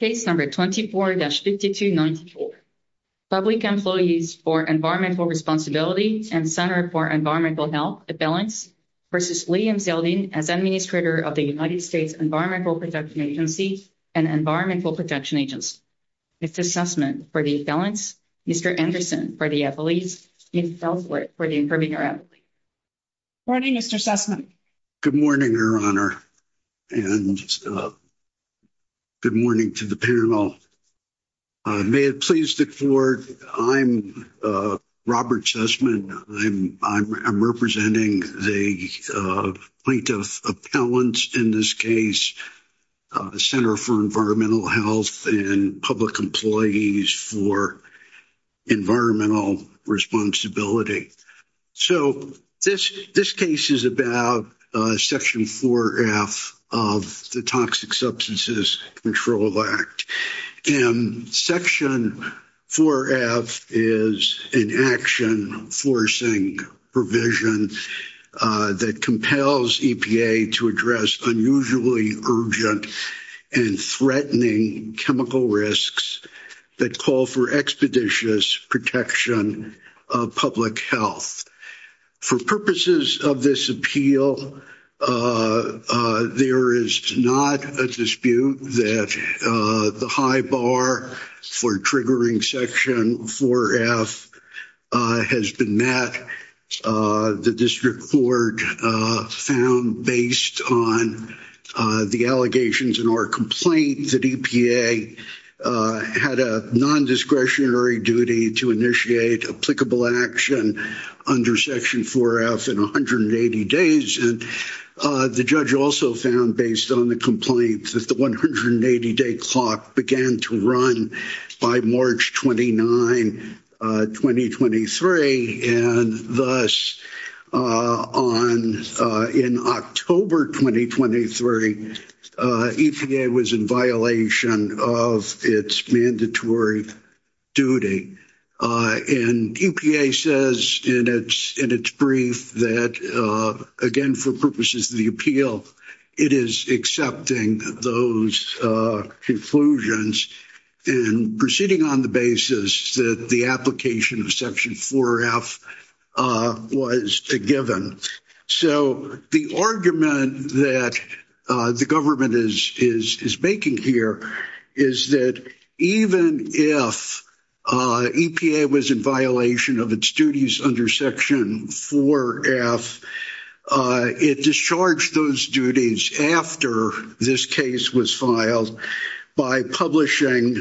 Case number 24-5294. Public Employees for Environmental Responsibility and Center for Environmental Health Appellants v. Lee Zeldin as Administrator of the United States Environmental Protection Agency and Environmental Protection Agency. Mr. Sussman for the Appellants, Mr. Anderson for the Employees, and Ms. Delfort for the Improving Our Employee. Good morning, Mr. Sussman. Good morning, Your Honor, and good morning to the panel. May it please the court, I'm Robert Sussman. I'm representing the plaintiff appellants in this case, Center for Environmental Health and Public Employees for Environmental Responsibility. So, this case is about Section 4F of the Toxic Substances Control Act. Section 4F is an action forcing provision that compels EPA to address unusually urgent and threatening chemical risks that call for expeditious protection of public health. For purposes of this appeal, there is not a dispute that the high bar for triggering Section 4F has been met. The district court found based on the allegations in our complaint that EPA had a non-discretionary duty to initiate applicable action under Section 4F in 180 days. The judge also found based on the complaints that the 180-day clock began to run by March 29, 2023, and thus in October 2023, EPA was in violation of its mandatory duty. And EPA says in its brief that, again, for purposes of the appeal, it is accepting those conclusions in proceeding on the basis that the application of Section 4F was given. So, the argument that the government is making here is that even if EPA was in violation of its duties under Section 4F, it discharged those duties after this case was filed by publishing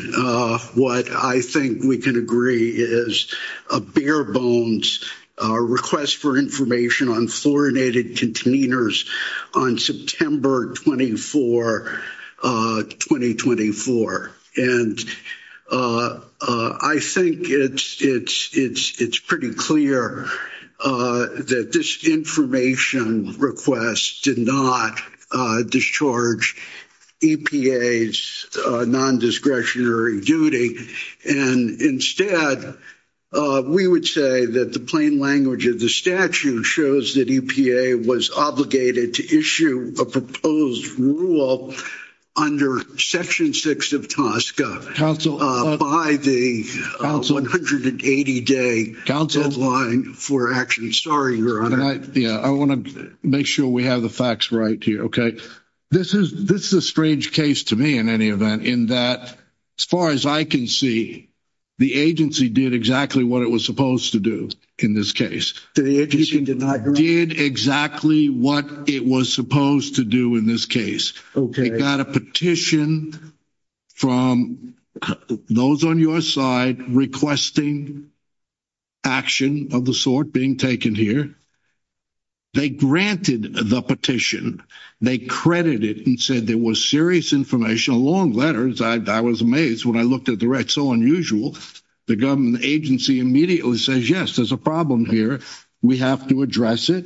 what I think we can agree is a bare bones request for information on fluorinated containers on September 24, 2024. And I think it's pretty clear that this information request did not discharge EPA's non-discretionary duty. And instead, we would say that the plain language of the statute shows that EPA was obligated to issue a proposed rule under Section 6 of TSCA by the 180-day deadline for action. Sorry, Your Honor. And I want to make sure we have the facts right here, okay? This is a strange case to me, in any event, in that, as far as I can see, the agency did exactly what it was supposed to do in this case. The agency did exactly what it was supposed to do in this case. It got a petition from those on your side requesting action of the sort being taken here. They granted the petition. They credited it and said there was serious information, long letters. I was amazed when I looked at the record, so unusual. The government agency immediately says, yes, there's a problem here. We have to address it.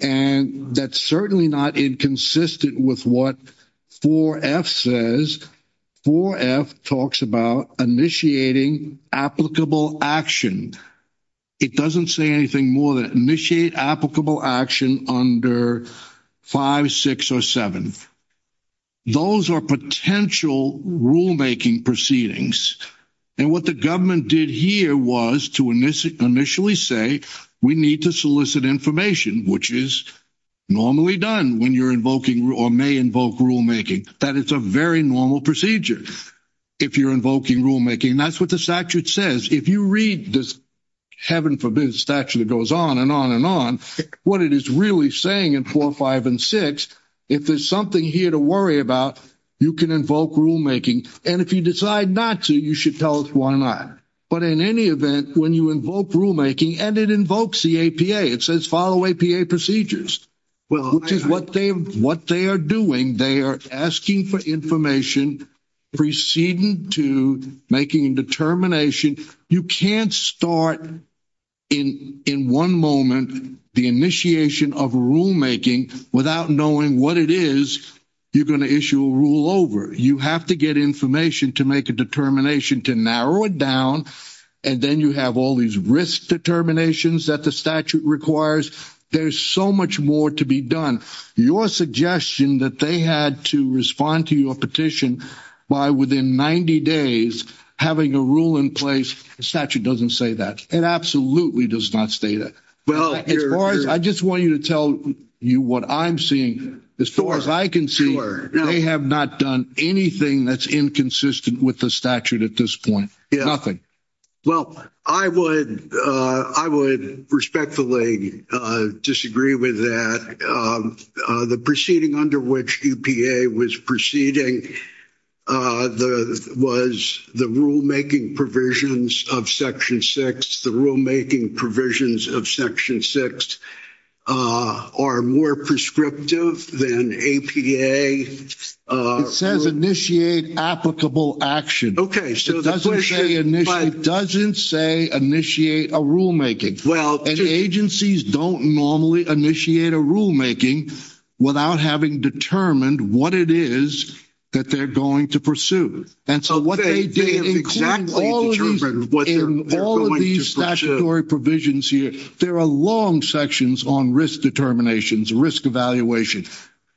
And that's certainly not inconsistent with what 4F says. 4F talks about initiating applicable action. It doesn't say anything more than initiate applicable action under 5, 6, or 7. Those are potential rulemaking proceedings. And what the government did here was to initially say we need to solicit information, which is normally done when you're invoking or may invoke rulemaking. That is a very normal procedure if you're invoking rulemaking. That's what the statute says. If you read this, heaven forbid, statute that goes on and on and on, what it is really saying in 4, 5, and 6, if there's something here to worry about, you can invoke rulemaking. And if you decide not to, you should tell us why not. But in any event, when you invoke rulemaking, and it invokes the APA, it says follow APA procedures, which is what they are doing. They are asking for information preceding to making a determination. You can't start in one moment the initiation of rulemaking without knowing what it is you're going to issue a rule over. You have to get information to make a determination to narrow it down, and then you have all these risk determinations that the statute requires. There's so much more to be done. Your suggestion that they had to respond to your petition by within 90 days having a rule in place, the statute doesn't say that. It absolutely does not say that. I just want you to tell you what I'm seeing. As far as I can see, they have not done anything that's inconsistent with the statute at this point. Nothing. Well, I would respectfully disagree with that. The proceeding under which UPA was proceeding was the rulemaking provisions of Section 6. The rulemaking provisions of Section 6 are more prescriptive than APA. It says initiate applicable action. Okay. It doesn't say initiate a rulemaking. And agencies don't normally initiate a rulemaking without having determined what it is that they're going to pursue. And so what they did, including all of these statutory provisions here, there are long sections on risk determinations, risk evaluation,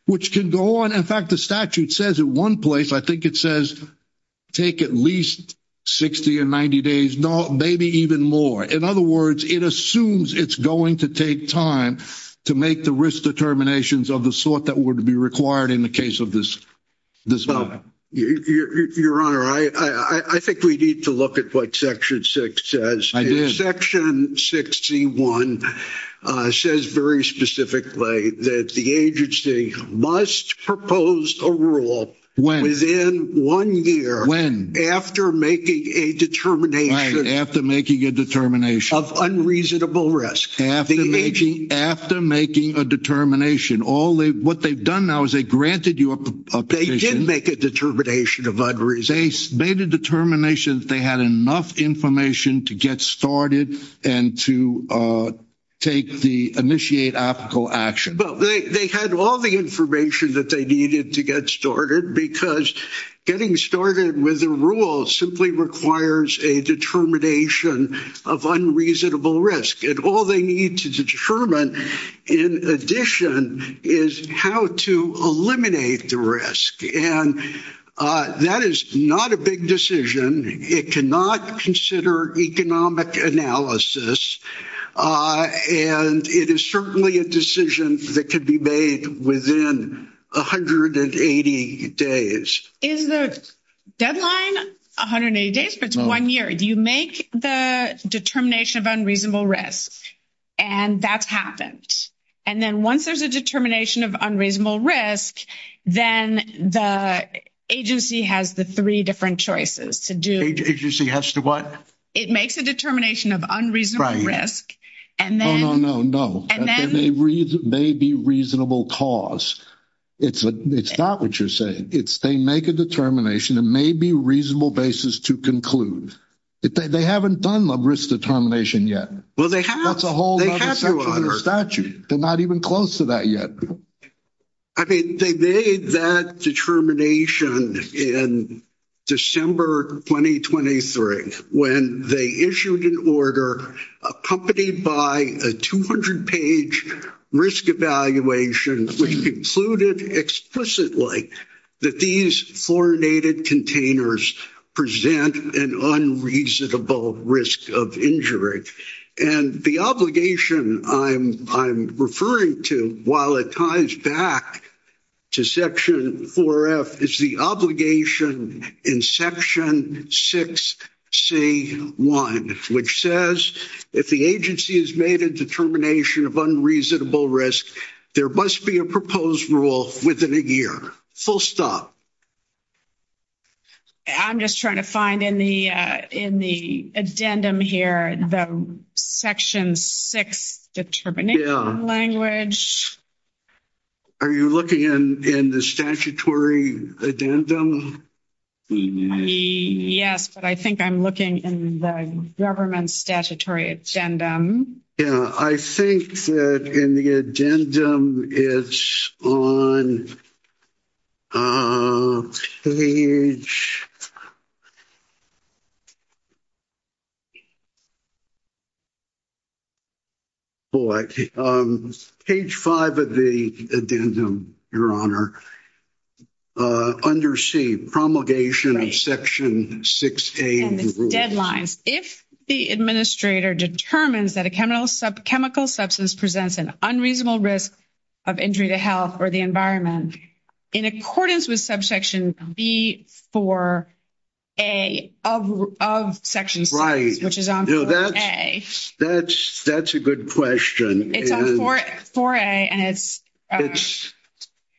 which can go on. In fact, the statute says at one place, I think it says, take at least 60 or 90 days, maybe even more. In other words, it assumes it's going to take time to make the risk determinations of the sort that would be required in the case of this bill. Your Honor, I think we need to look at what Section 6 says. Section 61 says very specifically that the agency must propose a rule within one year after making a determination of unreasonable risk. After making a determination. What they've done now is they granted you a petition. They did make a determination of unreasonable risk. They made a determination that they had enough information to get started and to take the initiate applicable action. They had all the information that they needed to get started because getting started with a rule simply requires a determination of unreasonable risk. All they need to determine, in addition, is how to eliminate the risk. And that is not a big decision. It cannot consider economic analysis. And it is certainly a decision that could be made within 180 days. Is the deadline 180 days, but it's one year? Do you make the determination of unreasonable risk? And that's happened. And then once there's a determination of unreasonable risk, then the agency has the three different choices to do. The agency has to what? It makes a determination of unreasonable risk. Right. Oh, no, no, no. And then? There may be reasonable cause. It's not what you're saying. It's they make a determination. It may be a reasonable basis to conclude. They haven't done the risk determination yet. Well, they have. That's a whole other section of the statute. They're not even close to that yet. I mean, they made that determination in December 2023 when they issued an order accompanied by a 200 page risk evaluation, which concluded explicitly that these fluoridated containers present an unreasonable risk of injury. And the obligation I'm referring to while it ties back to section 4F is the obligation in section 6C1, which says if the agency has made a determination of unreasonable risk, there must be a proposed rule within a year. Full stop. I'm just trying to find in the addendum here, the section 6 determination language. Yeah. Are you looking in the statutory addendum? Yes, but I think I'm looking in the government statutory addendum. Yeah, I think that in the addendum, it's on page five of the addendum, your honor, under C, promulgation of section 6A. Deadlines. If the administrator determines that a chemical substance presents an unreasonable risk of injury to health or the environment in accordance with subsection B4A of section 6, which is on 4A. That's a good question. It's on 4A and it's...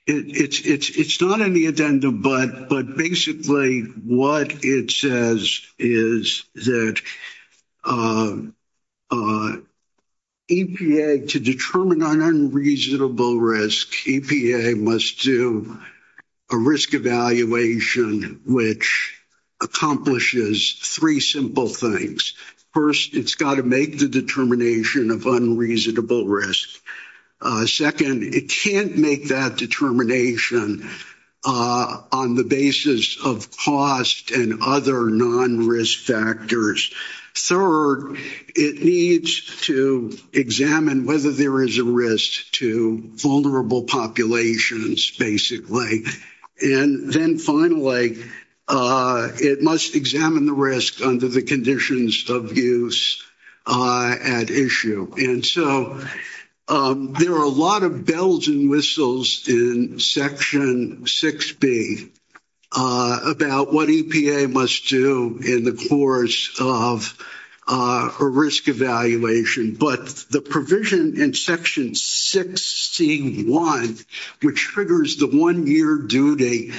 It's not in the addendum, but basically what it says is that EPA, to determine an unreasonable risk, EPA must do a risk evaluation, which accomplishes three simple things. First, it's got to make the determination of unreasonable risk. Second, it can't make that determination on the basis of cost and other non-risk factors. Third, it needs to examine whether there is a risk to vulnerable populations, basically. And then finally, it must examine the risk under the conditions of use at issue. And so there are a lot of bells and whistles in section 6B about what EPA must do in the course of a risk evaluation, but the provision in section 6C1, which triggers the one-year duty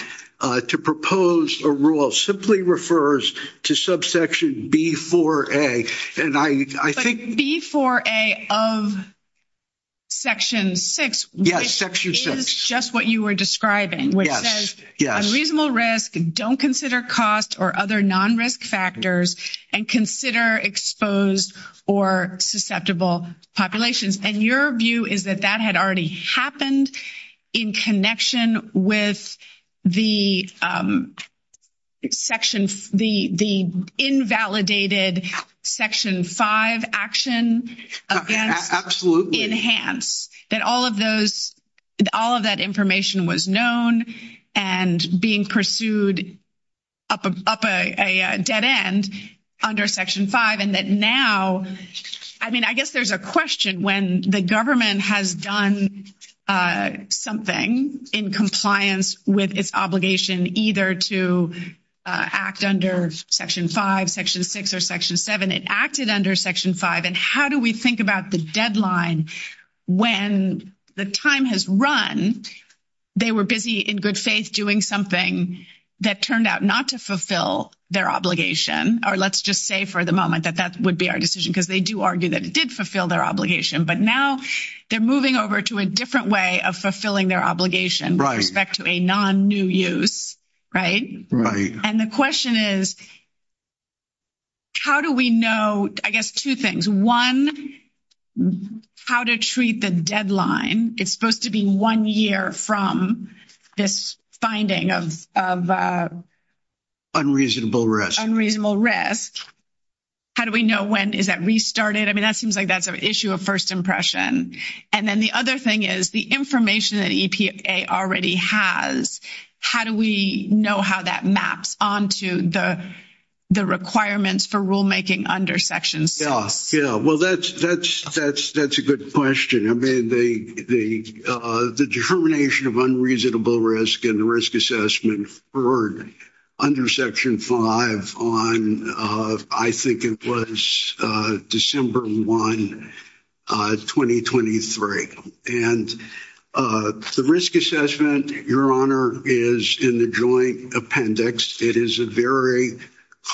to propose a rule, simply refers to subsection B4A. And I think... B4A of section 6, which is just what you were describing, which says unreasonable risk, don't consider cost or other non-risk factors, and consider exposed or susceptible populations. And your view is that that had already happened in connection with the invalidated section 5 action against Enhance, that all of that information was known and being pursued up a dead end under section 5, and that now... I mean, I guess there's a question when the government has done something in compliance with its obligation either to act under section 5, section 6, or section 7, it acted under section 5, and how do we think about the deadline when the time has run, they were busy in good faith doing something that turned out not to fulfill their obligation? Or let's just say for the they do argue that it did fulfill their obligation, but now they're moving over to a different way of fulfilling their obligation with respect to a non-new use, right? And the question is, how do we know, I guess two things. One, how to treat the deadline. It's supposed to be one from this finding of unreasonable risk. Unreasonable risk. How do we know when is that restarted? I mean, that seems like that's an issue of first impression. And then the other thing is the information that EPA already has, how do we know how that maps onto the requirements for rule unreasonable risk and the risk assessment for under section 5 on, I think it was December 1, 2023. And the risk assessment, your honor, is in the joint appendix. It is a very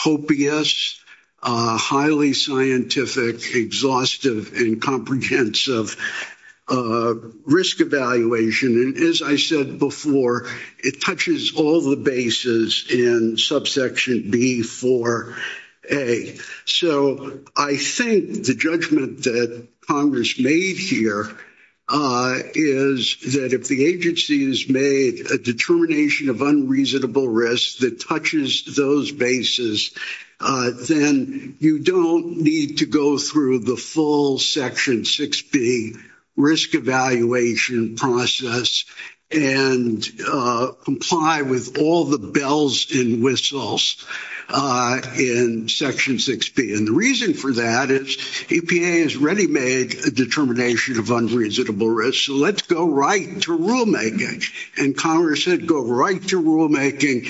copious, highly scientific, exhaustive, and comprehensive risk evaluation. And as I said before, it touches all the bases in subsection B4A. So I think the judgment that Congress made here is that if the agency has made a determination of unreasonable risk that touches those bases, then you don't need to go through the full section 6B risk evaluation process and comply with all the bells and whistles in section 6B. And the reason for that is EPA has already made a determination of unreasonable risk. So let's go right to rulemaking. And Congress said go right to rulemaking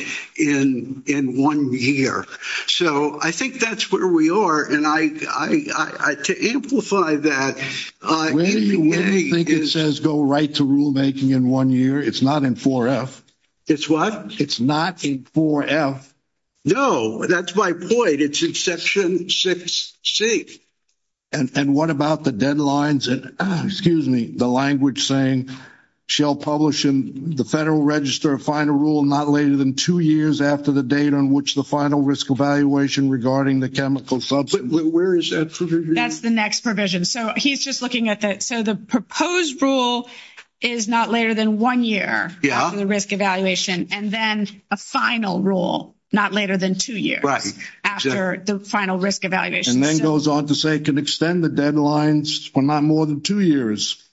in one year. So I think that's where we are. And to amplify that, EPA is- Where do you think it says go right to rulemaking in one year? It's not in 4F. It's what? It's not in 4F. No, that's my point. It's in section 6C. And what about the deadlines and, excuse me, the language saying shall publish in the Federal Register a final rule not later than two years after the date on which the final risk evaluation regarding the chemical substance- Where is that provision? That's the next provision. So he's just looking at that. So the proposed rule is not later than one year after the risk evaluation, and then a final rule not later than two years after the final risk evaluation. And then goes on to say it can extend the deadlines for not more than two years.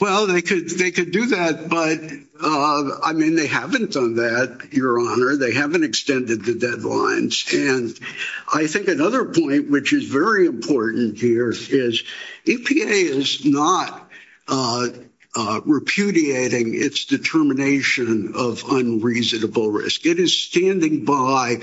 Well, they could do that, but, I mean, they haven't done that, Your Honor. They haven't extended the deadlines. And I think another point, which is very important here, is EPA is not repudiating its determination of unreasonable risk. It is standing by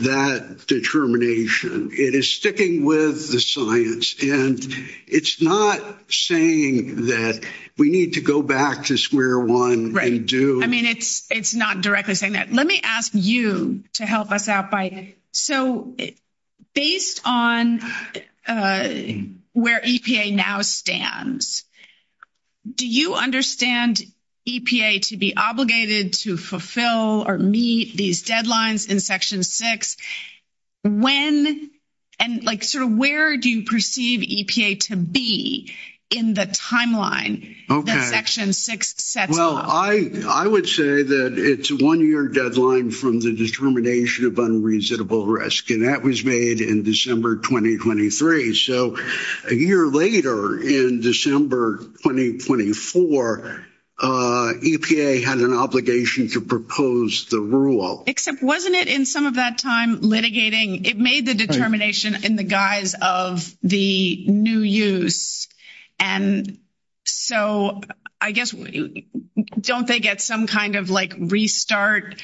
that determination. It is sticking with the science, and it's not saying that we need to go back to square one. Right. I mean, it's not directly saying that. Let me ask you to help us out by, so based on where EPA now stands, do you understand EPA to be obligated to fulfill or meet these deadlines in Section 6? And sort of where do you perceive EPA to be in the timeline that Section 6 sets out? Well, I would say that it's a one-year deadline from the determination of unreasonable risk, and that was made in December 2023. So a year later, in December 2024, EPA had an obligation to propose the rule. Except wasn't it in some of that time litigating? It made the determination in the guise of the new use. And so I guess, don't they get some kind of like restart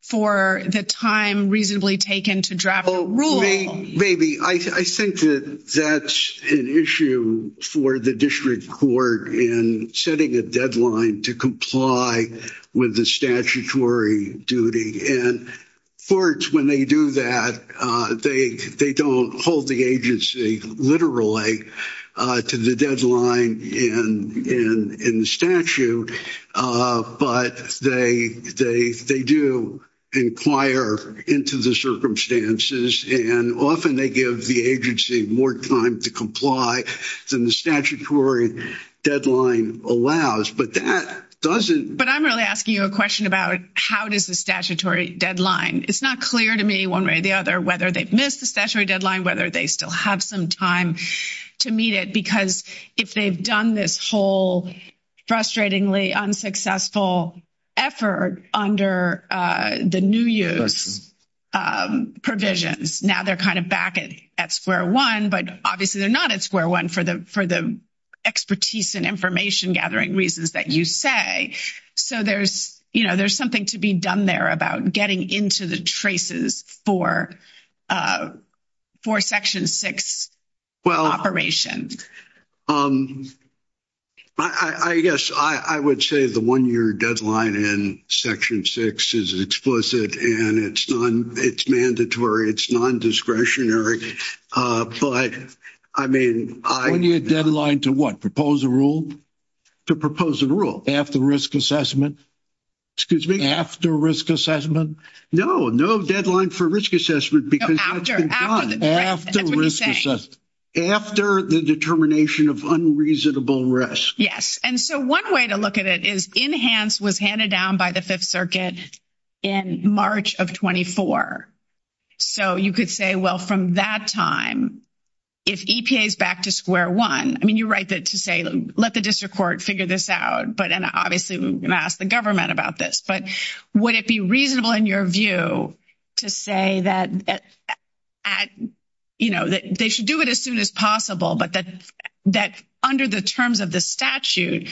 for the time reasonably taken to draft the rule? Maybe. I think that that's an issue for the district court in setting a deadline to comply with the statutory duty. And courts, when they do that, they don't hold the agency literally to the deadline in the statute. But they do inquire into the circumstances, and often they give the agency more time to comply than the statutory deadline allows. But that doesn't... But I'm really asking you a question about how does the statutory deadline? It's not clear to me one way or the other whether they've missed the statutory deadline, whether they still have some time to meet it. Because if they've done this whole frustratingly unsuccessful effort under the new use provisions, now they're kind of back at square one, but obviously they're not at square one for the expertise and information gathering reasons that you say. So there's something to be done there about getting into the traces for Section 6 operation. Well, I guess I would say the one-year deadline in Section 6 is explicit, and it's mandatory, it's non-discretionary. But, I mean, I... One-year deadline to what? Propose a rule? To propose a rule. After risk assessment? Excuse me? After risk assessment? No, no deadline for risk assessment because that's been done. No, after. That's what he's saying. After the determination of unreasonable risk. Yes. And so one way to look at it is enhance was handed down by the Fifth Amendment in March 2024. So you could say, well, from that time, if EPA's back to square one, I mean, you're right to say, let the district court figure this out, but obviously we're going to ask the government about this. But would it be reasonable in your view to say that they should do it as soon as possible, but that under the terms of the statute,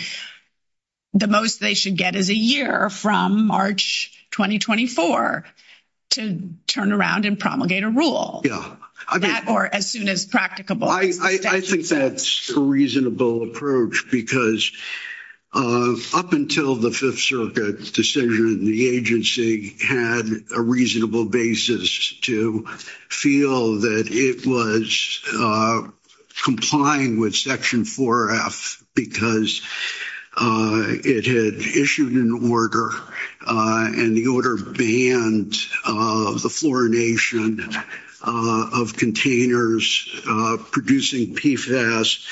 the most they should get is a year from March 2024 to turn around and promulgate a rule? Yeah. Or as soon as practicable. I think that's a reasonable approach because up until the Fifth Circuit decision, the agency had a reasonable basis to feel that it was complying with Section 4F because it had issued an order and the order banned the fluorination of containers producing PFAS.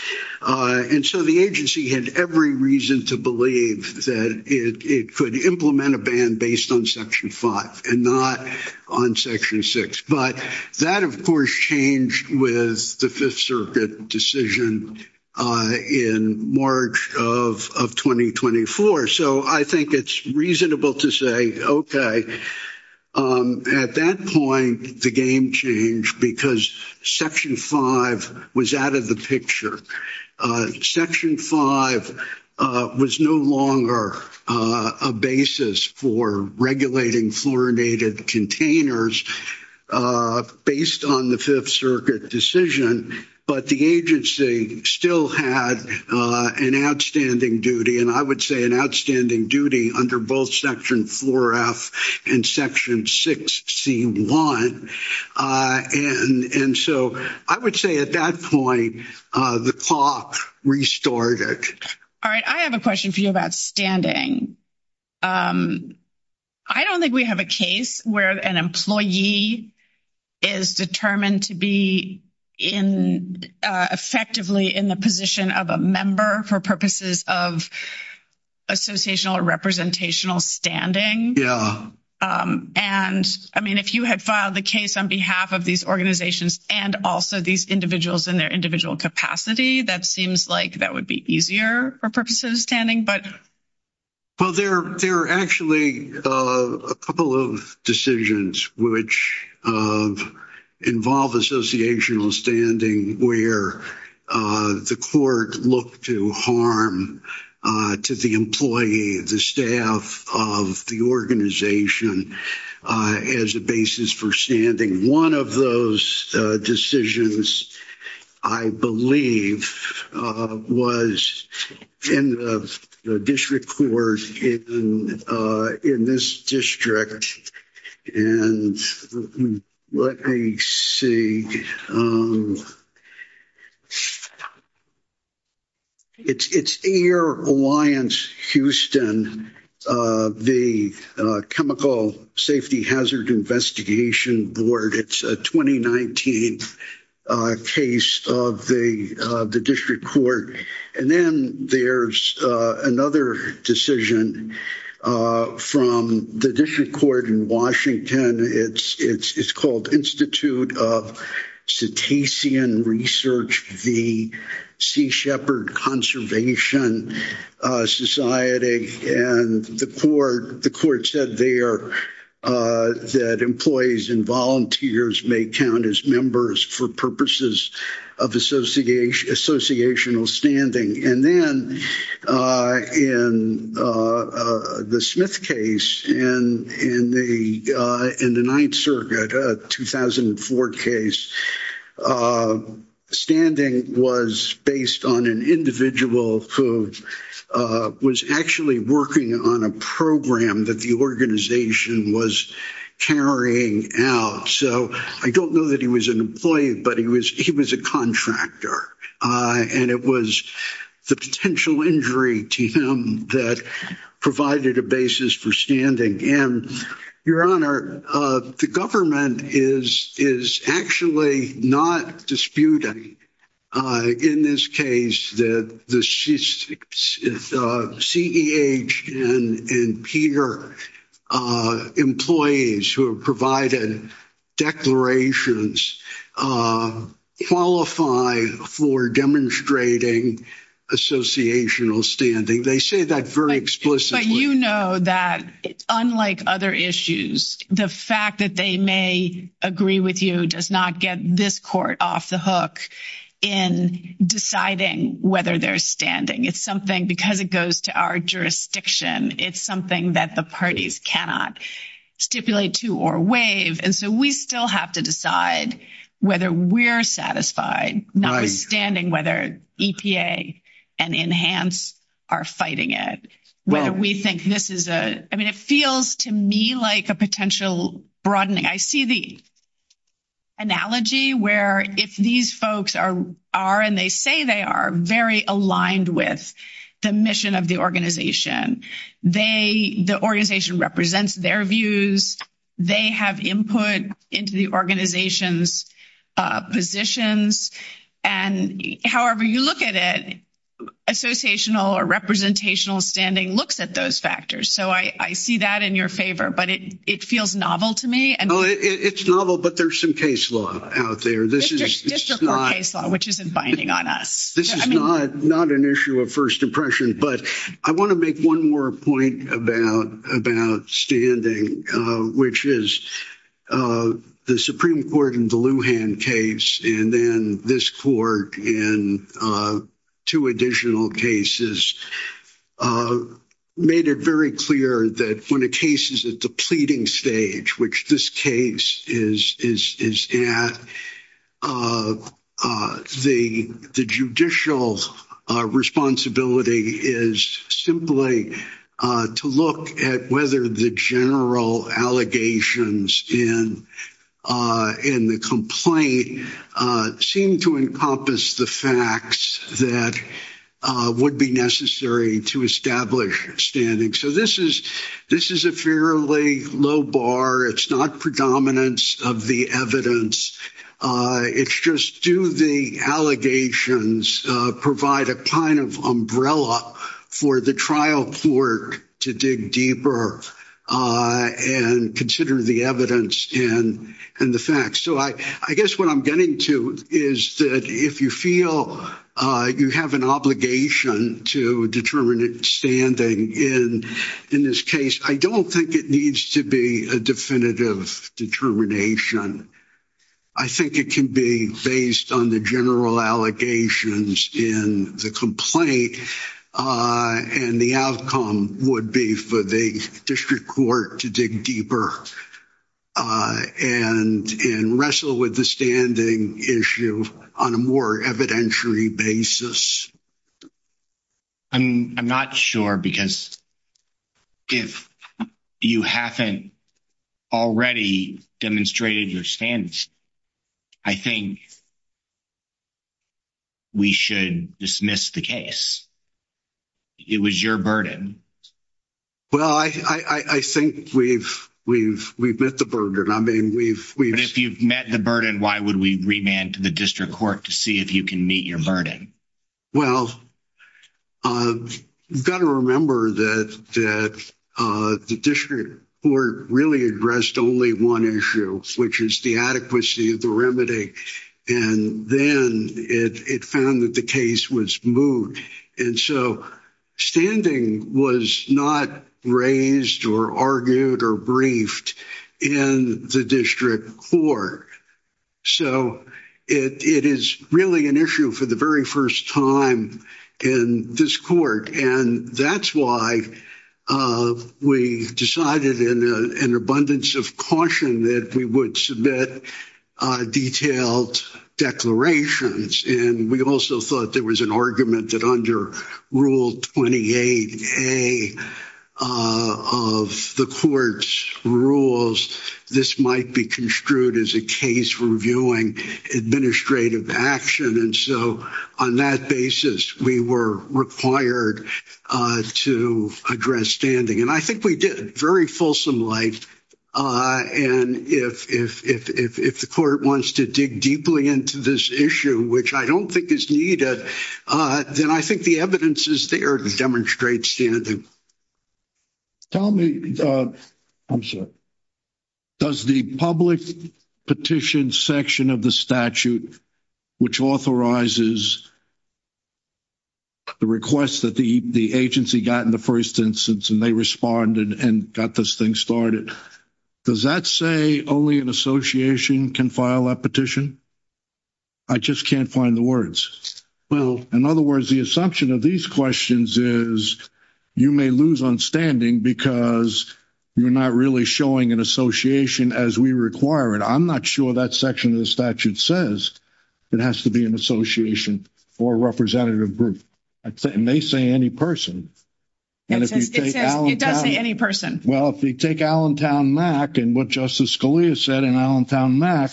And so the agency had every reason to believe that it could implement a ban based on Section 5 and not on Section 6. But that, of course, changed with the Fifth Circuit decision in March of 2024. So I think it's reasonable to say, okay, at that point, the game changed because Section 5 was out of the picture. Section 5 was no longer a basis for regulating fluorinated containers based on the Fifth Circuit decision, but the agency still had an outstanding duty. And I would say an outstanding duty under both Section 4F and Section 6C1. And so I would say at that point, the clock restarted. All right. I have a question for you about standing. I don't think we have a case where an employee is determined to be effectively in the position of a member for purposes of associational or representational standing. And I mean, if you had filed the case on behalf of these organizations and also these individuals in their individual capacity, that seems like that would be easier for purposes of standing. Well, there are actually a couple of decisions which involve associational standing where the court looked to harm to the employee, the staff of the organization as a basis for standing. One of those decisions, I believe, was in the district court in this district. And let me see. It's Air Alliance Houston, the Chemical Safety Hazard Investigation Board. It's a 2019 case of the district court. And then there's another decision from the district court in Washington. It's called Institute of Cetacean Research, the Sea Shepherd Conservation Society. And the court said there that employees and volunteers may count as members for purposes of associational standing. And then in the Smith case in the Ninth Circuit, a 2004 case, a standing was based on an individual who was actually working on a program that the organization was carrying out. So I don't know that he was an employee, but he was he was a contractor. And it was the potential injury to him that provided a basis for standing. And, Your Honor, the government is actually not disputing in this case that the CEH and PEER employees who have provided declarations qualify for demonstrating associational standing. They The fact that they may agree with you does not get this court off the hook in deciding whether they're standing. It's something because it goes to our jurisdiction. It's something that the parties cannot stipulate to or waive. And so we still have to decide whether we're satisfied, notwithstanding whether EPA and Enhance are fighting it, whether we think this is a I mean, it feels to me like a potential broadening. I see the analogy where if these folks are are and they say they are very aligned with the mission of the organization, they the organization represents their views. They have input into the organization's positions. And however you look at associational or representational standing looks at those factors. So I see that in your favor, but it it feels novel to me. And it's novel, but there's some case law out there. This is which isn't binding on us. This is not not an issue of first impression, but I want to make one more point about about standing, which is the Supreme Court in the two additional cases made it very clear that when a case is at the pleading stage, which this case is is is at the the judicial responsibility is simply to look at whether the general allegations in in the complaint seem to encompass the facts that would be necessary to establish standing. So this is this is a fairly low bar. It's not predominance of the evidence. It's just do the allegations provide a kind of umbrella for the trial court to dig deeper and consider the evidence and and the facts. So I guess what I'm getting to is that if you feel you have an obligation to determine standing in in this case, I don't think it needs to be a definitive determination. I think it can be based on the general allegations in the complaint and the outcome would be for the district court to dig deeper and and wrestle with the standing issue on a more evidentiary basis. I'm not sure because if you haven't already demonstrated your stance, I think we should dismiss the case. It was your burden. Well, I think we've we've we've met the burden. I mean, we've we've. If you've met the burden, why would we remand to the district court to see if you can meet your burden? Well, you've got to remember that that the district court really addressed only one issue, which is the adequacy of the remedy. And then it found that the case was moved. And so standing was not raised or argued or briefed in the district court. So it it is really an issue for the very first time in this court. And that's why we decided in an abundance of caution that we would submit detailed declarations. And we also thought there was an argument that under Rule 28A of the court's rules, this might be construed as a case for administrative action. And so on that basis, we were required to address standing. And I think we did very fulsome light. And if the court wants to dig deeply into this issue, which I don't think is needed, then I think the evidence is there to demonstrate standing. Tell me, I'm sorry, does the public petition section of the statute, which authorizes the request that the agency got in the first instance, and they responded and got this thing started? Does that say only an association can file a petition? I just can't find the words. Well, in other words, the assumption of these questions is you may lose on standing because you're not really showing an association as we require it. I'm not sure that section of the statute says it has to be an association or representative group. I'd say it may say any person. It does say any person. Well, if you take Allentown MAC and what Justice Scalia said in Allentown MAC,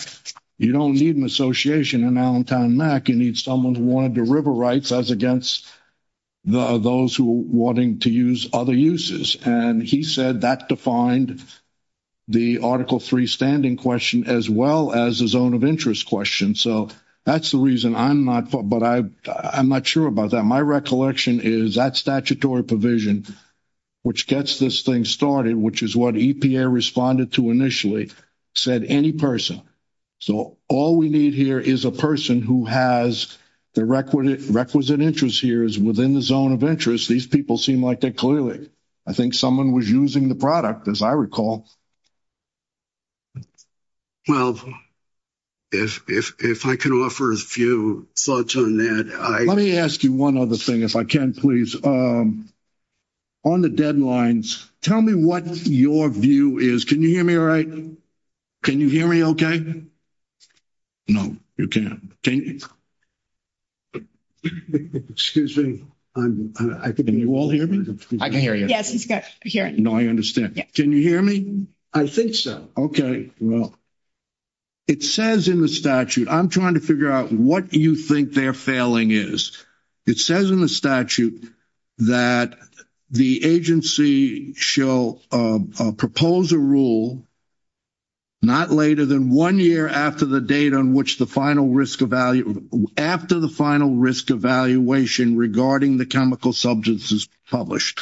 you don't need an association in Allentown MAC. You need someone who wanted to river rights as against those who are wanting to use other uses. And he said that defined the Article III standing question as well as the zone of interest question. So that's the reason I'm not, but I'm not sure about that. My recollection is that statutory provision, which gets this thing started, which is what EPA responded to initially, said any person. So all we need here is a person who has the requisite interest here is within the zone of interest. These people seem like they're clearly, I think someone was using the product, as I recall. Well, if I can offer a few thoughts on that. Let me ask you one other thing if I can, please. On the deadlines, tell me what your view is. Can you hear me all right? Can you hear me okay? No, you can't. Excuse me. Can you all hear me? I can hear you. Yes, he's got hearing. No, I understand. Can you hear me? I think so. Okay. Well, it says in the statute, I'm trying to figure out what you think they're failing is. It says in the statute that the agency shall propose a rule not later than one year after the date on which the final risk evaluation, after the final risk evaluation regarding the chemical substance is published.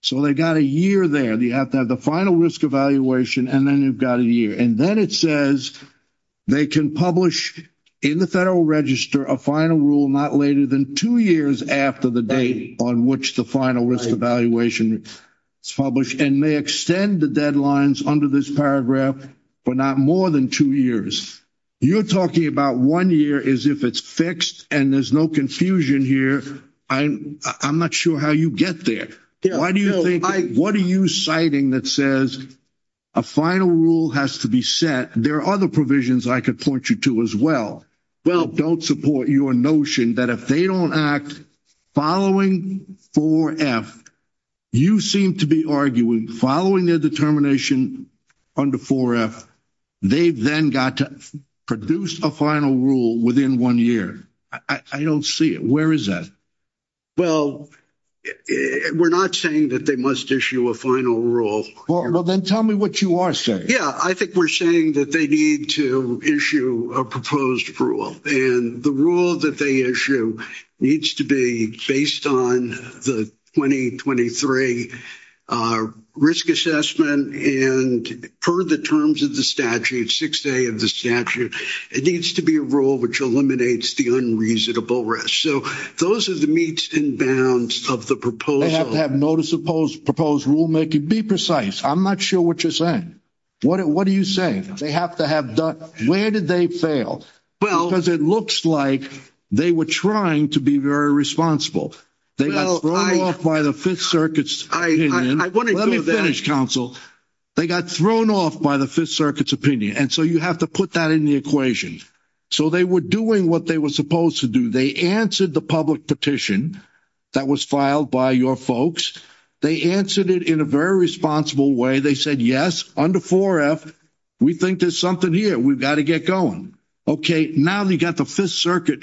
So they got a year there. You have to have the final risk evaluation, and then you've got a year. And then it says they can publish in the federal register a final rule not later than two years after the date on which the final risk evaluation is published and may extend the deadlines under this paragraph for not more than two years. You're talking about one year as if it's fixed, and there's no confusion here. I'm not sure how you get there. Why do you think, what are you citing that says a final rule has to be set? There are other provisions I could point you to as well. Well, don't support your notion that if they don't act following 4F, you seem to be arguing following their determination under 4F, they've then got to produce a final rule within one year. I don't see it. Where is that? Well, we're not saying that they must issue a final rule. Well, then tell me what you are saying. Yeah, I think we're saying that they need to issue a proposed rule. And the rule that they issue needs to be based on the 2023 risk assessment. And per the terms of the statute, 6A of the statute, it needs to be a rule which eliminates the unreasonable risk. So those are the bounds of the proposal. They have to have notice of proposed rulemaking. Be precise. I'm not sure what you're saying. What are you saying? They have to have done, where did they fail? Because it looks like they were trying to be very responsible. They got thrown off by the Fifth Circuit's opinion. Let me finish, counsel. They got thrown off by the Fifth Circuit's opinion. And so you have to put that in the equation. So they were doing what they were supposed to do. They answered the public petition that was filed by your folks. They answered it in a very responsible way. They said, yes, under 4F, we think there's something here. We've got to get going. Okay, now they got the Fifth Circuit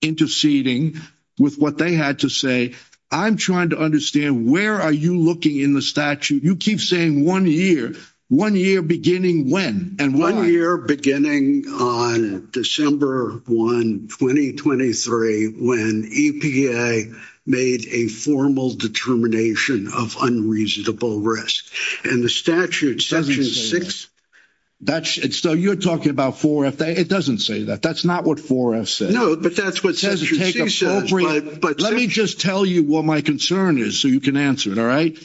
interceding with what they had to say. I'm trying to understand, where are you looking in the statute? You keep saying one year. One year beginning when? And one year beginning on December 1, 2023, when EPA made a formal determination of unreasonable risk. And the statute, section 6. So you're talking about 4F. It doesn't say that. That's not what 4F says. No, but that's what section 6 says. Let me just tell you what my concern is, so you can answer it, all right?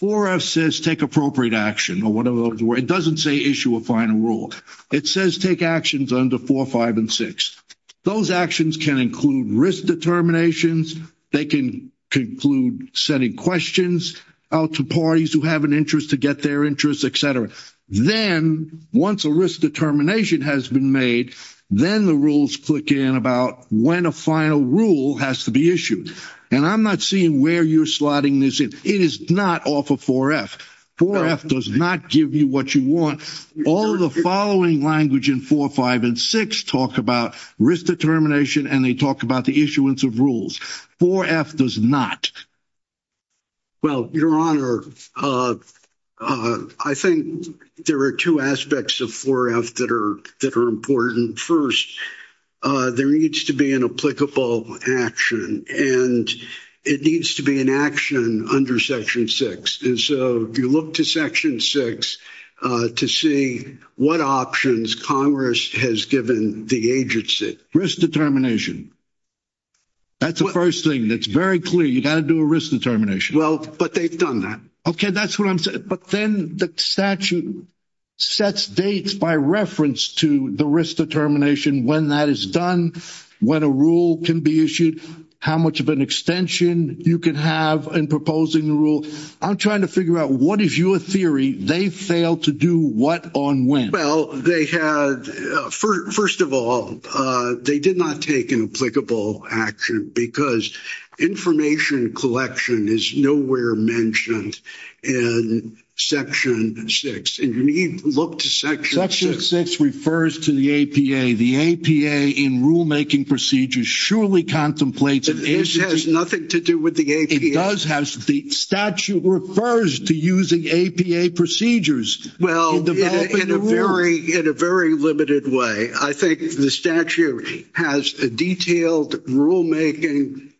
4F says take appropriate action or whatever. It doesn't say issue a final rule. It says take actions under 4, 5, and 6. Those actions can include risk determinations. They can conclude setting questions out to parties who have an interest to get their interest, et cetera. Then, once a risk determination has been made, then the rules click in about when a final rule has to be issued. And I'm not seeing where you're slotting this in. It is not off of 4F. 4F does not give you what you want. All the following language in 4, 5, and 6 talk about risk determination, and they talk about the issuance of rules. 4F does not. Well, your honor, I think there are two aspects of 4F that are important. First, there needs to be an applicable action, and it needs to be an action under section 6. And so, if you look to section 6 to see what options Congress has given the agency. Risk determination. That's the first thing that's very clear. You've got to do a risk determination. Well, but they've done that. Okay, that's what I'm saying. But then the statute sets dates by reference to the risk determination, when that is done, when a rule can be issued, how much of an extension you can have in proposing the rule. I'm trying to figure out, what is your theory? They failed to do what on when? Well, first of all, they did not take an action because information collection is nowhere mentioned in section 6. And you need to look to section 6. Section 6 refers to the APA. The APA in rulemaking procedures surely contemplates- This has nothing to do with the APA. It does. The statute refers to using APA procedures. Well, in a very limited way. I think the statute has a detailed rulemaking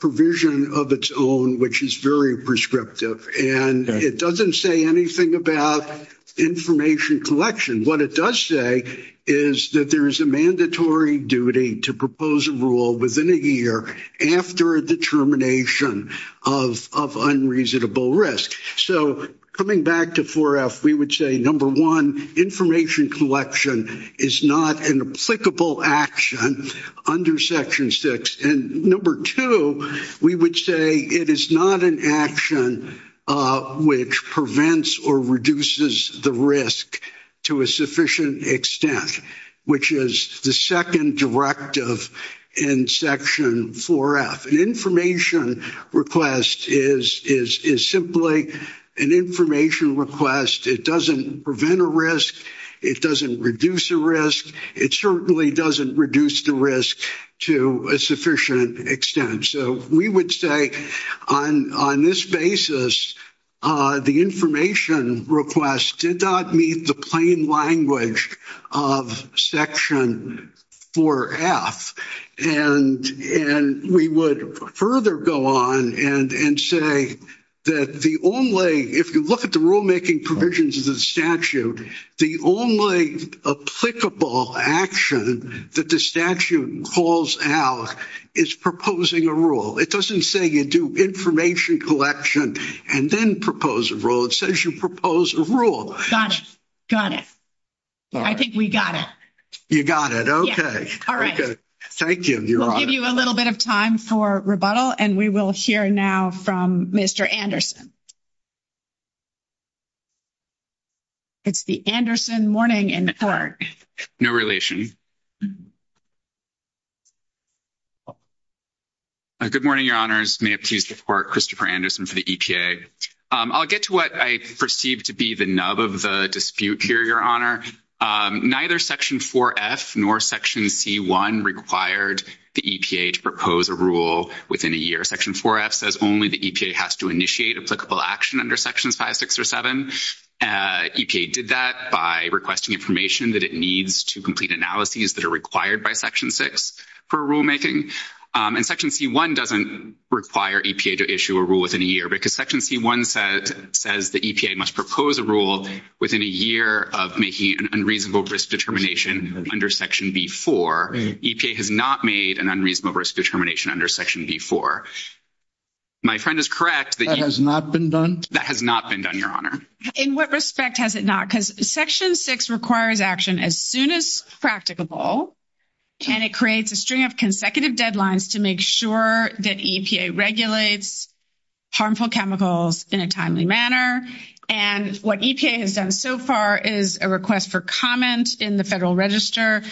provision of its own, which is very prescriptive. And it doesn't say anything about information collection. What it does say is that there is a mandatory duty to propose a rule within a year after a determination of unreasonable risk. So, coming back to 4F, we would say, number one, information collection is not an applicable action under section 6. And number two, we would say it is not an action which prevents or reduces the risk to a sufficient extent, which is the second directive in section 4F. An information request is simply an information request. It doesn't prevent a risk. It doesn't reduce a risk. It certainly doesn't reduce the risk to a sufficient extent. So, we would say on this basis, the information request did not meet the plain language of section 4F. And we would further go on and say that the only, if you look at the rulemaking provisions of the statute, the only applicable action that the statute calls out is proposing a rule. It doesn't say you do information collection and then propose a rule. It says you propose a rule. Got it. Got it. I think we got it. You got it. Okay. All right. Thank you, Your Honor. We'll give you a little bit of time for rebuttal, and we will hear now from Mr. Anderson. It's the Anderson morning in court. No relation. Good morning, Your Honors. May I please report Christopher Anderson for the EPA. I'll get to what I perceive to be the nub of the dispute here, Your Honor. Neither section 4F nor section C1 required the EPA to propose a rule within a year. Section 4F says only the EPA has to initiate applicable action under sections 5, 6, or 7. EPA did that by requesting information that it needs to complete analyses that are required by section 6 for rulemaking. Section C1 doesn't require EPA to issue a rule within a year because section C1 says the EPA must propose a rule within a year of making an unreasonable risk determination under section B4. EPA has not made an unreasonable risk determination under section B4. My friend is correct. That has not been done? That has not been done, Your Honor. In what respect has it not? Because section 6 requires action as soon as practicable, and it creates a string of consecutive deadlines to make sure that EPA regulates harmful chemicals in a timely manner. And what EPA has done so far is a request for comment in the Federal Register.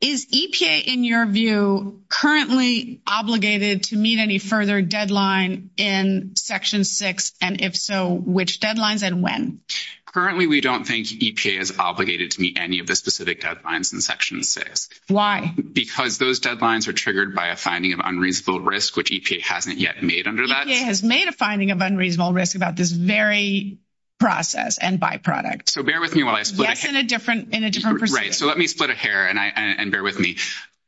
Is EPA, in your view, currently obligated to meet any further deadline in section 6? And if so, which deadlines and when? Currently, we don't think EPA is obligated to meet any of the specific deadlines in section 6. Why? Because those deadlines are triggered by a finding of unreasonable risk, which EPA hasn't yet made under that. EPA has made a finding of unreasonable risk about this very process and byproduct. So bear with me while I split it. Yes, in a different procedure. Right. So let me split it here and bear with me.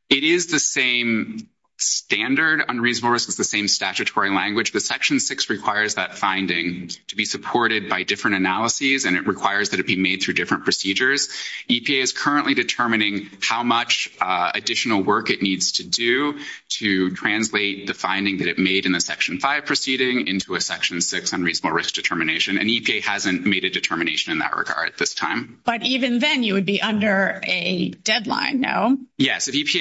It is the same standard unreasonable risk. It's the same statutory language. But section 6 requires that finding to be supported by different analyses, and it requires that it be made through different procedures. EPA is currently determining how much additional work it needs to do to translate the finding that it made in the section 5 proceeding into a section 6 unreasonable risk determination. And EPA hasn't made a determination in that regard at this time. But even then, you would be under a deadline, no? Yes. I think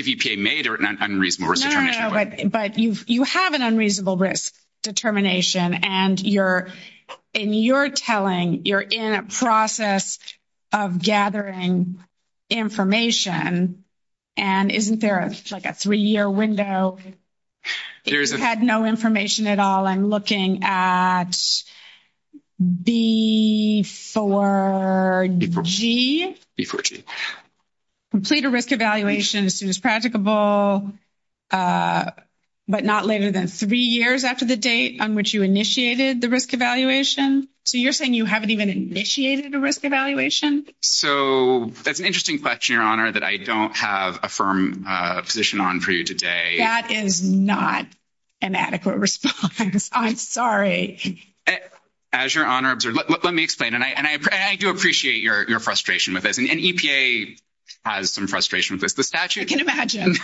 if EPA made an unreasonable risk determination. But you have an unreasonable risk determination, and in your telling, you're in a process of gathering information. And isn't there like a three-year window if you had no information at all? I'm looking at B4G. Complete a risk evaluation as soon as practicable, but not later than three years after the date on which you initiated the risk evaluation. So you're saying you haven't even initiated a risk evaluation? So that's an interesting question, Your Honor, that I don't have a firm position on for you today. That is not an adequate response. I'm sorry. As Your Honor observed, let me explain. And I do appreciate your frustration with this. And EPA has some frustration with this. I can imagine.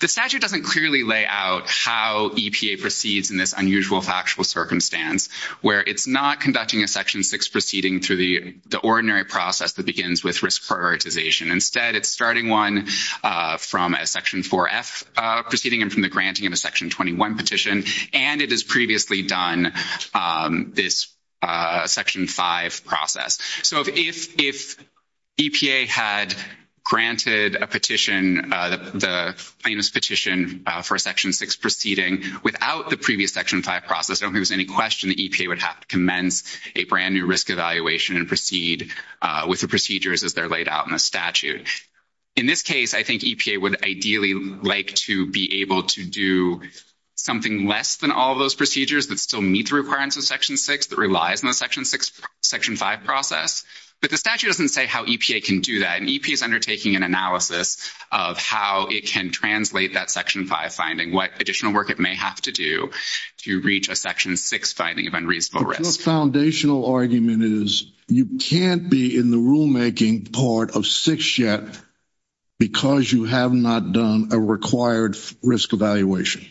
The statute doesn't clearly lay out how EPA proceeds in this unusual factual circumstance, where it's not conducting a section 6 proceeding through the ordinary process that begins with prioritization. Instead, it's starting one from a Section 4F proceeding and from the granting of a Section 21 petition. And it has previously done this Section 5 process. So if EPA had granted the famous petition for a Section 6 proceeding without the previous Section 5 process, I don't think there's any question that EPA would have to commence a brand-new risk evaluation and with the procedures as they're laid out in the statute. In this case, I think EPA would ideally like to be able to do something less than all those procedures that still meet the requirements of Section 6 that relies on the Section 5 process. But the statute doesn't say how EPA can do that. And EPA is undertaking an analysis of how it can translate that Section 5 finding, what additional work it may have to do to reach a Section 6 finding of unreasonable risk. Your foundational argument is you can't be in the rulemaking part of 6 yet because you have not done a required risk evaluation.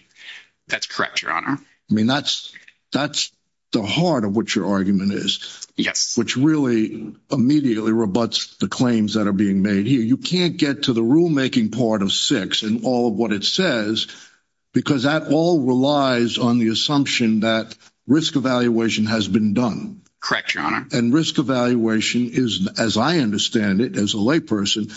That's correct, Your Honor. I mean, that's the heart of what your argument is. Yes. Which really immediately rebuts the claims that are being made here. You can't get to the rulemaking part of 6 and all of what it says because that all relies on the assumption that risk evaluation has been done. Correct, Your Honor. And risk evaluation is, as I understand it, as a layperson,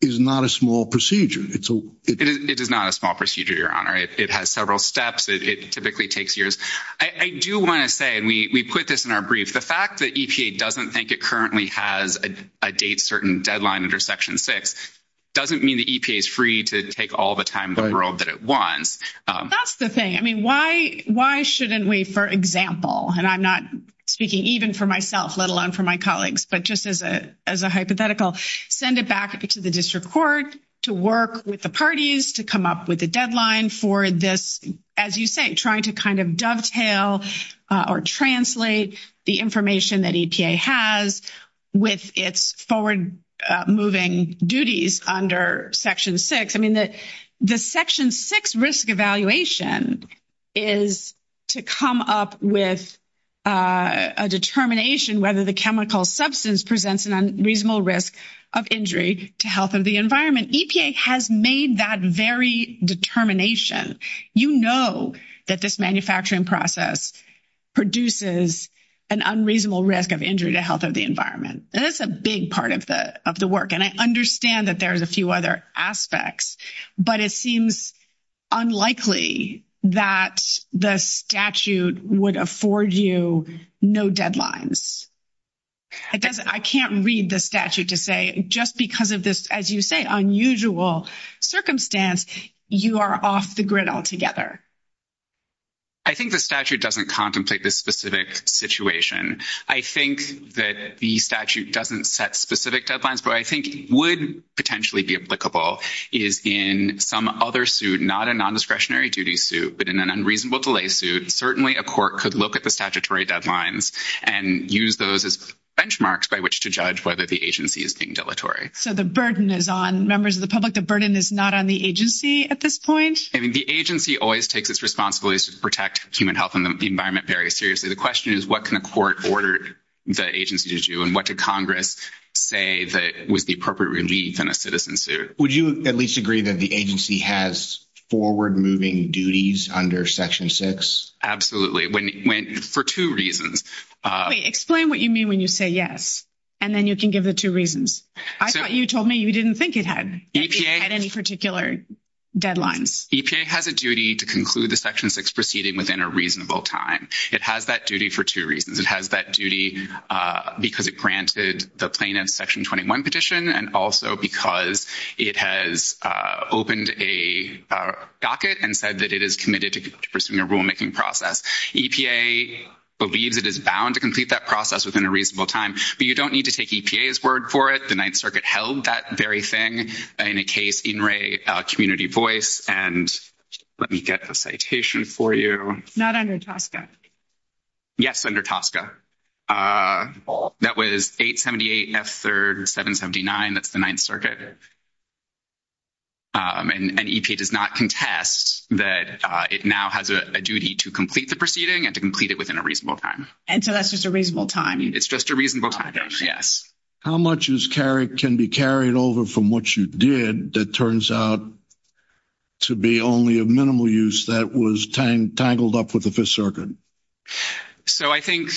is not a small procedure. It is not a small procedure, Your Honor. It has several steps. It typically takes years. I do want to say, and we put this in our brief, the fact that EPA doesn't think it currently has a date certain deadline under Section 6 doesn't mean the EPA is free to take all the time in the world that it wants. That's the thing. I mean, why shouldn't we, for example, and I'm not speaking even for myself, let alone for my colleagues, but just as a hypothetical, send it back to the district court to work with the parties to come up with a deadline for this, as you say, trying to kind of dovetail or translate the information that EPA has with its forward-moving duties under Section 6. The Section 6 risk evaluation is to come up with a determination whether the chemical substance presents an unreasonable risk of injury to health of the environment. EPA has made that very determination. You know that this manufacturing process produces an unreasonable risk of injury to health of the environment. That's a big part of the work, and I understand that there's a few other aspects, but it seems unlikely that the statute would afford you no deadlines. I can't read the statute to say just because of this, as you say, unusual circumstance, you are off the grid altogether. I think the statute doesn't contemplate this specific situation. I think that the statute doesn't set specific deadlines, but I think it would potentially be applicable is in some other suit, not a nondiscretionary duty suit, but in an unreasonable delay suit, certainly a court could look at the statutory deadlines and use those as benchmarks by which to judge whether the agency is being dilatory. So the burden is on members of the public. The burden is not on the agency at this point. I mean, the agency always takes its responsibilities to protect human health and the environment very seriously. The question is, what can a court order the agency to do, and what did Congress say that was the appropriate relief in a citizen suit? Would you at least agree that the agency has forward-moving duties under Section 6? Absolutely. For two reasons. Explain what you mean when you say yes, and then you can give the two reasons. I thought you told me you didn't think it had any particular deadlines. EPA has a duty to conclude the Section 6 proceeding within a reasonable time. It has that duty for two reasons. It has that duty because it granted the plaintiff's Section 21 petition and also because it has opened a docket and said that it is committed to pursuing a rulemaking process. EPA believes it is bound to complete that process within a reasonable time, but you don't need to take EPA's word for it. The Ninth Circuit held that very thing in a case in Ray Community Voice, and let me get the citation for you. Not under TSCA. Yes, under TSCA. That was 878 F3rd 779. That's the Ninth Circuit. And EPA does not contest that it now has a duty to complete the proceeding and to complete it within a reasonable time. And so that's just a reasonable time? It's just a reasonable time, yes. How much can be carried over from what you did that turns out to be only a minimal use that was tangled up with the Fifth Circuit? So I think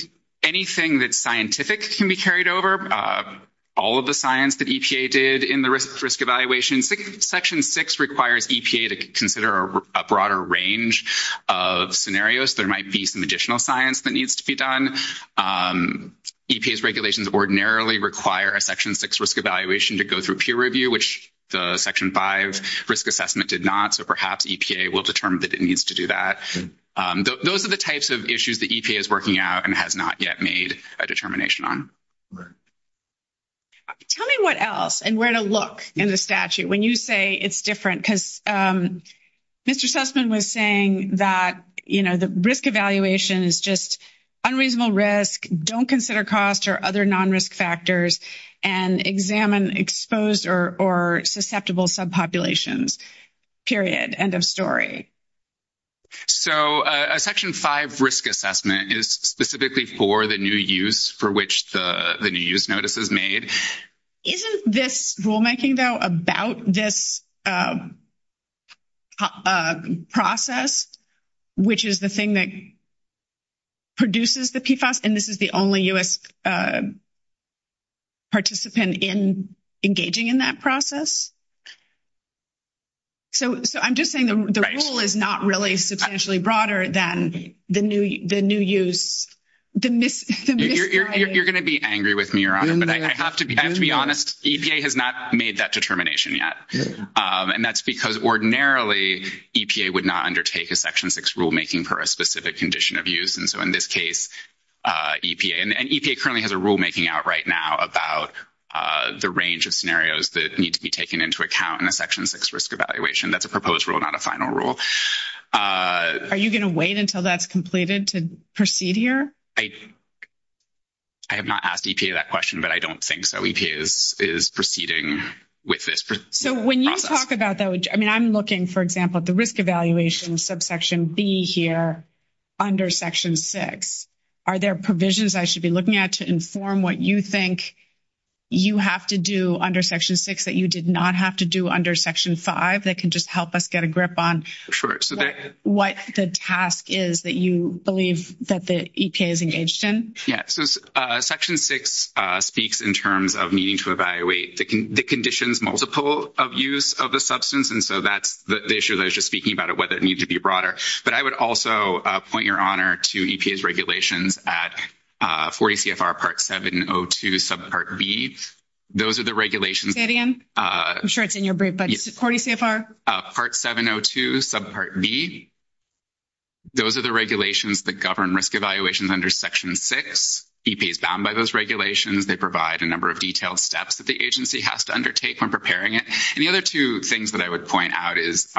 anything that's scientific can be carried over. All of the science that EPA did in the risk evaluation, Section 6 requires EPA to consider a broader range of scenarios. There might be some additional science that needs to be done. EPA's regulations ordinarily require a Section 6 risk evaluation to go through peer review, which the Section 5 risk assessment did not. So perhaps EPA will determine that it needs to do that. Those are the types of issues that EPA is working out and has not yet made a determination on. Tell me what else and where to look in the statute when you say it's different, because Mr. Sussman was saying that, you know, the risk evaluation is just unreasonable risk, don't consider cost or other non-risk factors, and examine exposed or susceptible subpopulations. Period. End of story. So a Section 5 risk assessment is specifically for the new use for which the new use notice is made. Isn't this rulemaking, though, about this process, which is the thing that produces the PFAS, and this is the only U.S. participant in engaging in that process? So I'm just saying the rule is not really substantially broader than the new use. You're going to be angry with me, Your Honor, but I have to be honest. EPA has not made that determination yet. And that's because ordinarily EPA would not undertake a Section 6 rulemaking per a specific condition of use. And so in this case, EPA, and EPA currently has a rulemaking out right now about the range of scenarios that need to be taken into account in a Section 6 risk evaluation. That's a proposed rule, not a final rule. Are you going to wait until that's completed to proceed here? I have not asked EPA that question, but I don't think so. EPA is proceeding with this process. So when you talk about that, I mean, I'm looking, for example, at the risk evaluation subsection B here under Section 6. Are there provisions I should be looking at to inform what you think you have to do under Section 6 that you did not have to do under Section 5 that can just help us get a grip on what the task is that you believe that the EPA is engaged in? Yeah. So Section 6 speaks in terms of needing to evaluate the conditions multiple of use of the substance. And so that's the issue that I was just speaking about, whether it needs to be broader. But I would also point, Your Honor, to EPA's regulations at 40 CFR Part 702 subpart B. Those are the regulations. Say it again. I'm sure it's in govern risk evaluations under Section 6. EPA is bound by those regulations. They provide a number of detailed steps that the agency has to undertake when preparing it. And the other two things that I would point out is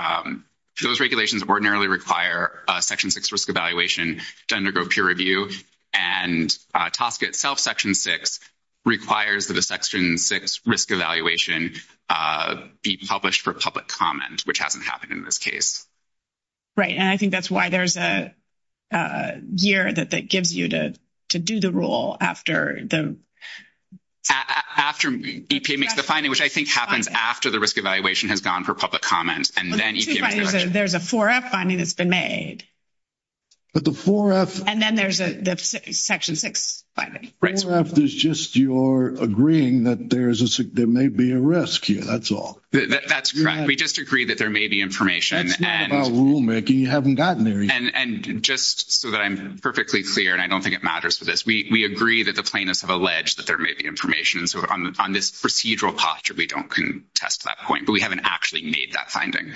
those regulations ordinarily require a Section 6 risk evaluation to undergo peer review. And TSCA itself, Section 6, requires that a Section 6 risk evaluation be published for public comment, which hasn't happened in this case. Right. And I think that's why there's a year that gives you to do the rule after the... After EPA makes the finding, which I think happens after the risk evaluation has gone for public comment. And then EPA... There's a 4F finding that's been made. But the 4F... And then there's the Section 6 finding. Right. 4F is just you're agreeing that there may be a risk here. That's all. That's correct. We just agree that there may be information. That's not about rulemaking. You haven't gotten there yet. And just so that I'm perfectly clear, and I don't think it matters for this, we agree that the plaintiffs have alleged that there may be information. So on this procedural posture, we don't contest that point. But we haven't actually made that finding.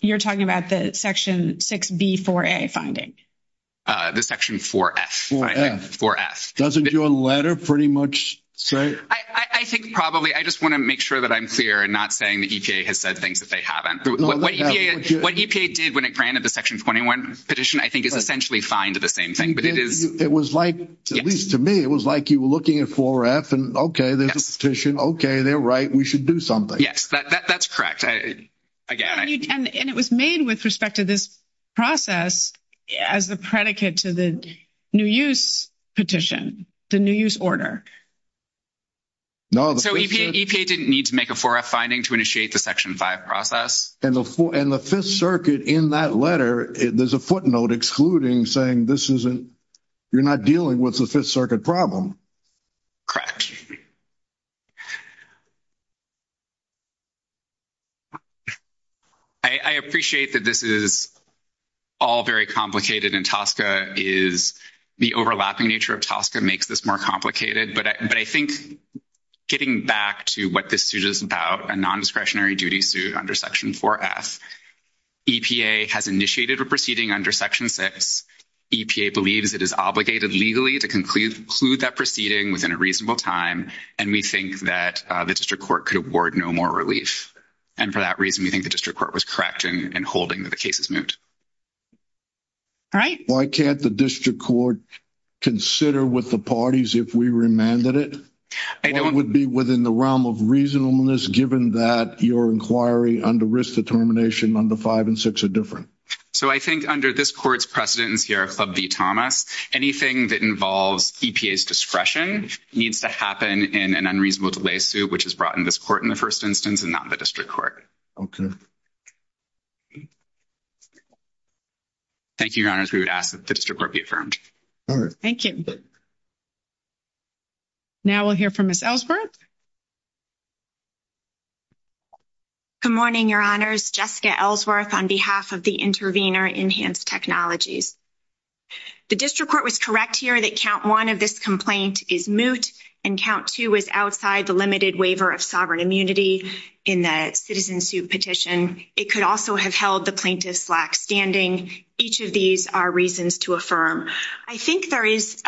You're talking about the Section 6B4A finding? The Section 4F, I think. 4F. Doesn't your letter pretty much say... I think probably... I just want to make sure that I'm clear and not saying that EPA has said things that they haven't. What EPA did when it granted the Section 21 petition, I think, is essentially fine to the same thing. But it is... It was like, at least to me, it was like you were looking at 4F and, okay, there's a petition. Okay, they're right. We should do something. Yes, that's correct. And it was made with respect to this process as the predicate to the new use petition, the new use order. So EPA didn't need to make a 4F finding to initiate the Section 5 process? And the Fifth Circuit, in that letter, there's a footnote excluding saying this isn't... You're not dealing with the Fifth Circuit problem. Correct. I appreciate that this is all very complicated, and TSCA is... The overlapping nature of TSCA makes this more complicated. But I think getting back to what this suit is about, a nondiscretionary duty suit under Section 4F, EPA has initiated a proceeding under Section 6. EPA believes it is obligated legally to conclude that proceeding within a reasonable time, and we think that the district court could award no more relief. And for that reason, we think the district court was correct in holding that the case is moved. All right. Why can't the district court consider with the parties if we remanded it? It would be within the realm of reasonableness, given that your inquiry under risk determination under 5 and 6 are different. So I think under this court's precedence here, Club v. Thomas, anything that involves EPA's discretion needs to happen in an unreasonable delay suit, which is brought in this court in the first instance and not the district court. Okay. Thank you, Your Honors. We would ask that the district court be affirmed. All right. Thank you. Now we'll hear from Ms. Ellsworth. Good morning, Your Honors. Jessica Ellsworth on behalf of the intervener, Enhanced Technologies. The district court was correct here that count one of this complaint is moot, and count two is outside the limited waiver of sovereign immunity in the citizen suit petition. It could also have held the plaintiff's lack standing. Each of these are reasons to affirm. I think there is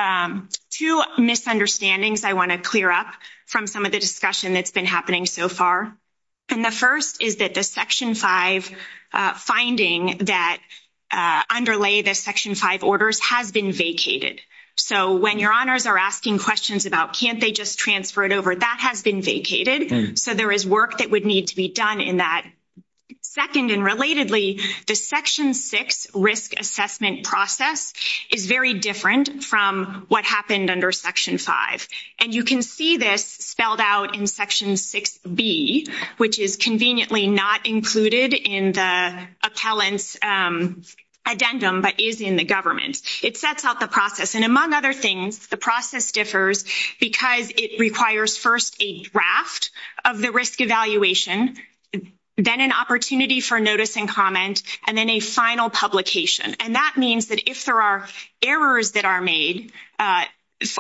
two misunderstandings I want to clear up from some of the discussion that's been happening so far. And the first is that the Section 5 finding that underlay the Section 5 orders has been vacated. So when Your Honors are asking questions about can't they just transfer it over, that has been vacated. So there is work that would need to be done in that. Second, and relatedly, the Section 6 risk assessment process is very different from what happened under Section 5. And you can see this spelled out in Section 6B, which is conveniently not included in the appellant's addendum, but is in the government. It sets out the process. And among other things, the process differs because it requires first a draft of the risk evaluation, then an opportunity for notice and comment, and then a final publication. And that means that if there are errors that are made,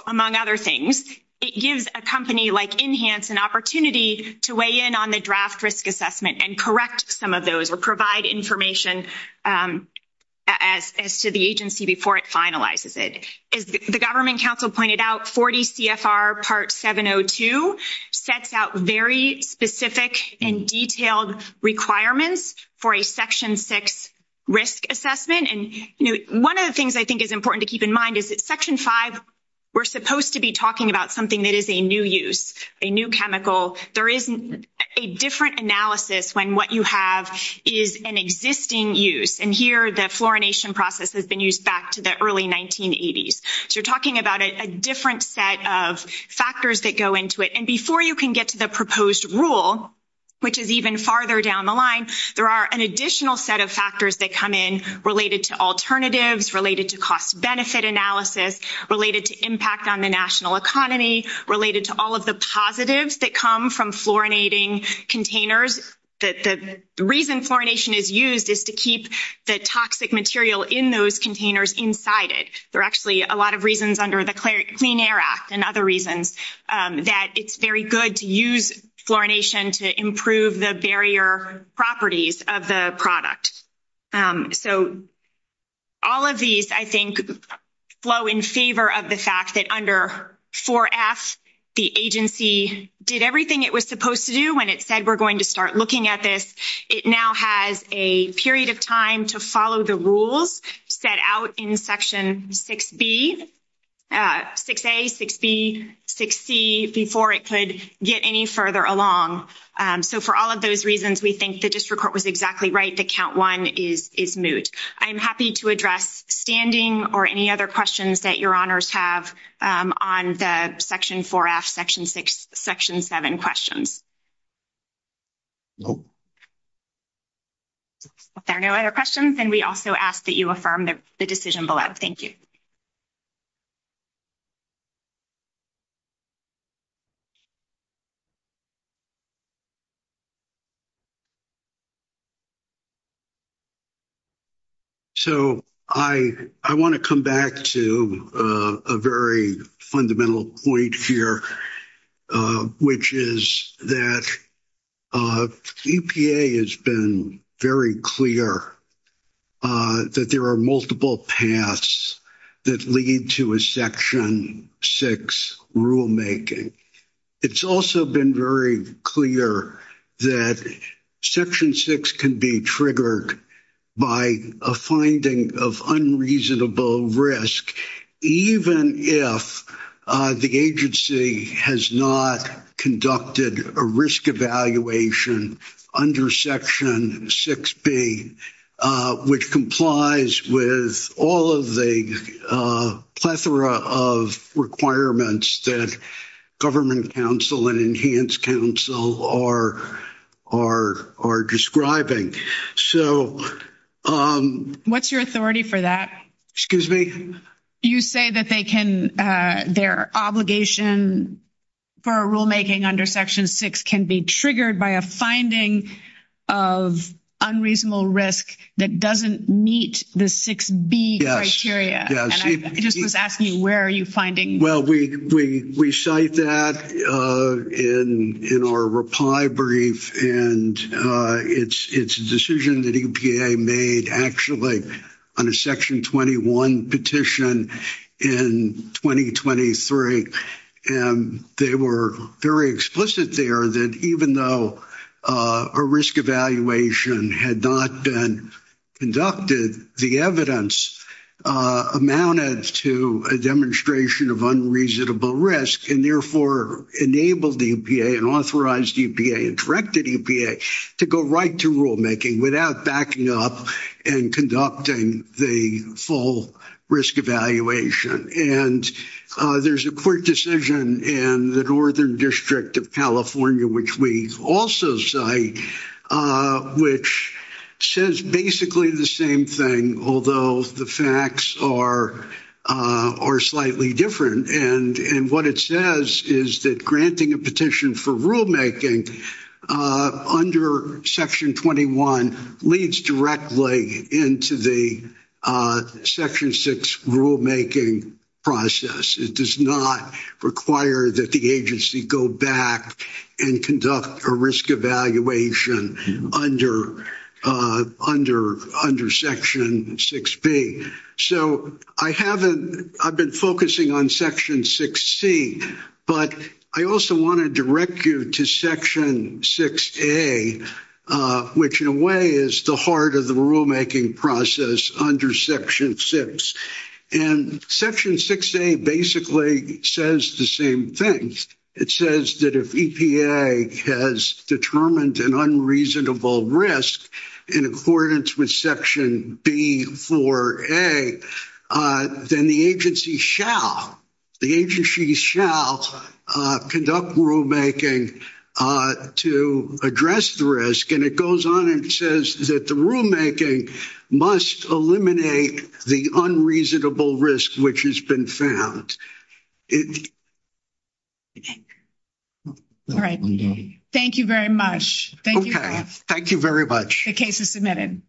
among other things, it gives a company like Enhanced an opportunity to weigh in on the draft risk assessment and correct some of those or provide information as to the agency before it finalizes it. As the government counsel pointed out, 40 CFR Part 702 sets out very specific and detailed requirements for a Section 6 risk assessment. And one of the things I think is important to keep in mind is that Section 5, we're supposed to be talking about something that is a new use, a new chemical. There is a different analysis when what you have is an existing use. And here, the fluorination process has been used back to the early 1980s. So you're talking about a different set of factors that go into it. And before you can get to the proposed rule, which is even farther down the line, there are an additional set of factors that come in related to alternatives, related to cost-benefit analysis, related to impact on the national economy, related to all of the positives that come from fluorinating containers. The reason fluorination is used is to keep the toxic material in those containers inside it. There are actually a lot of reasons under the Clean Air Act and other reasons that it's very good to use fluorination to improve the barrier properties of the product. So all of these, I think, flow in favor of the fact that under 4F, the agency did everything it was supposed to do when it said, we're going to start looking at this. It now has a period of time to follow the rules set out in Section 6B, 6A, 6B, 6C, before it could get any further along. So for all of those reasons, we think the district court was exactly right to count one is moot. I'm happy to address standing or any other questions that your honors have on the Section 4F, Section 6, Section 7 questions. Nope. If there are no other questions, then we also ask that you affirm the decision below. Thank you. So I want to come back to a very fundamental point here, which is that EPA has been very clear that there are multiple paths that lead to a Section 6 rulemaking. It's also been very clear that Section 6 can be tricky by a finding of unreasonable risk, even if the agency has not conducted a risk evaluation under Section 6B, which complies with all of the plethora of requirements that government counsel and enhanced counsel are describing. So... What's your authority for that? Excuse me? You say that their obligation for a rulemaking under Section 6 can be triggered by a finding of unreasonable risk that doesn't meet the 6B criteria. I just was asking you, where are you finding? Well, we cite that in our reply brief, and it's a decision that EPA made actually on a Section 21 petition in 2023. And they were very explicit there that even though a risk evaluation had not been conducted, the evidence amounted to a demonstration of unreasonable risk and therefore enabled EPA and authorized EPA and directed EPA to go right to rulemaking without backing up and conducting the full risk evaluation. And there's a court decision in the Northern District of California, which we also cite, which says basically the same thing, although the facts are slightly different. And what it says is that granting a petition for rulemaking under Section 21 leads directly into the Section 6 rulemaking process. It does not require that the agency go back and conduct a risk evaluation under Section 6B. So I've been focusing on Section 6C, but I also want to direct you to Section 6A, which in a way is the heart of the rulemaking process under Section 6. And Section 6A basically says the same thing. It says that if EPA has determined an unreasonable risk in accordance with Section B4A, then the agency shall conduct rulemaking to address the risk. And it goes on and says that the rulemaking must eliminate the unreasonable risk which has been found. All right. Thank you very much. Thank you very much. The case is submitted.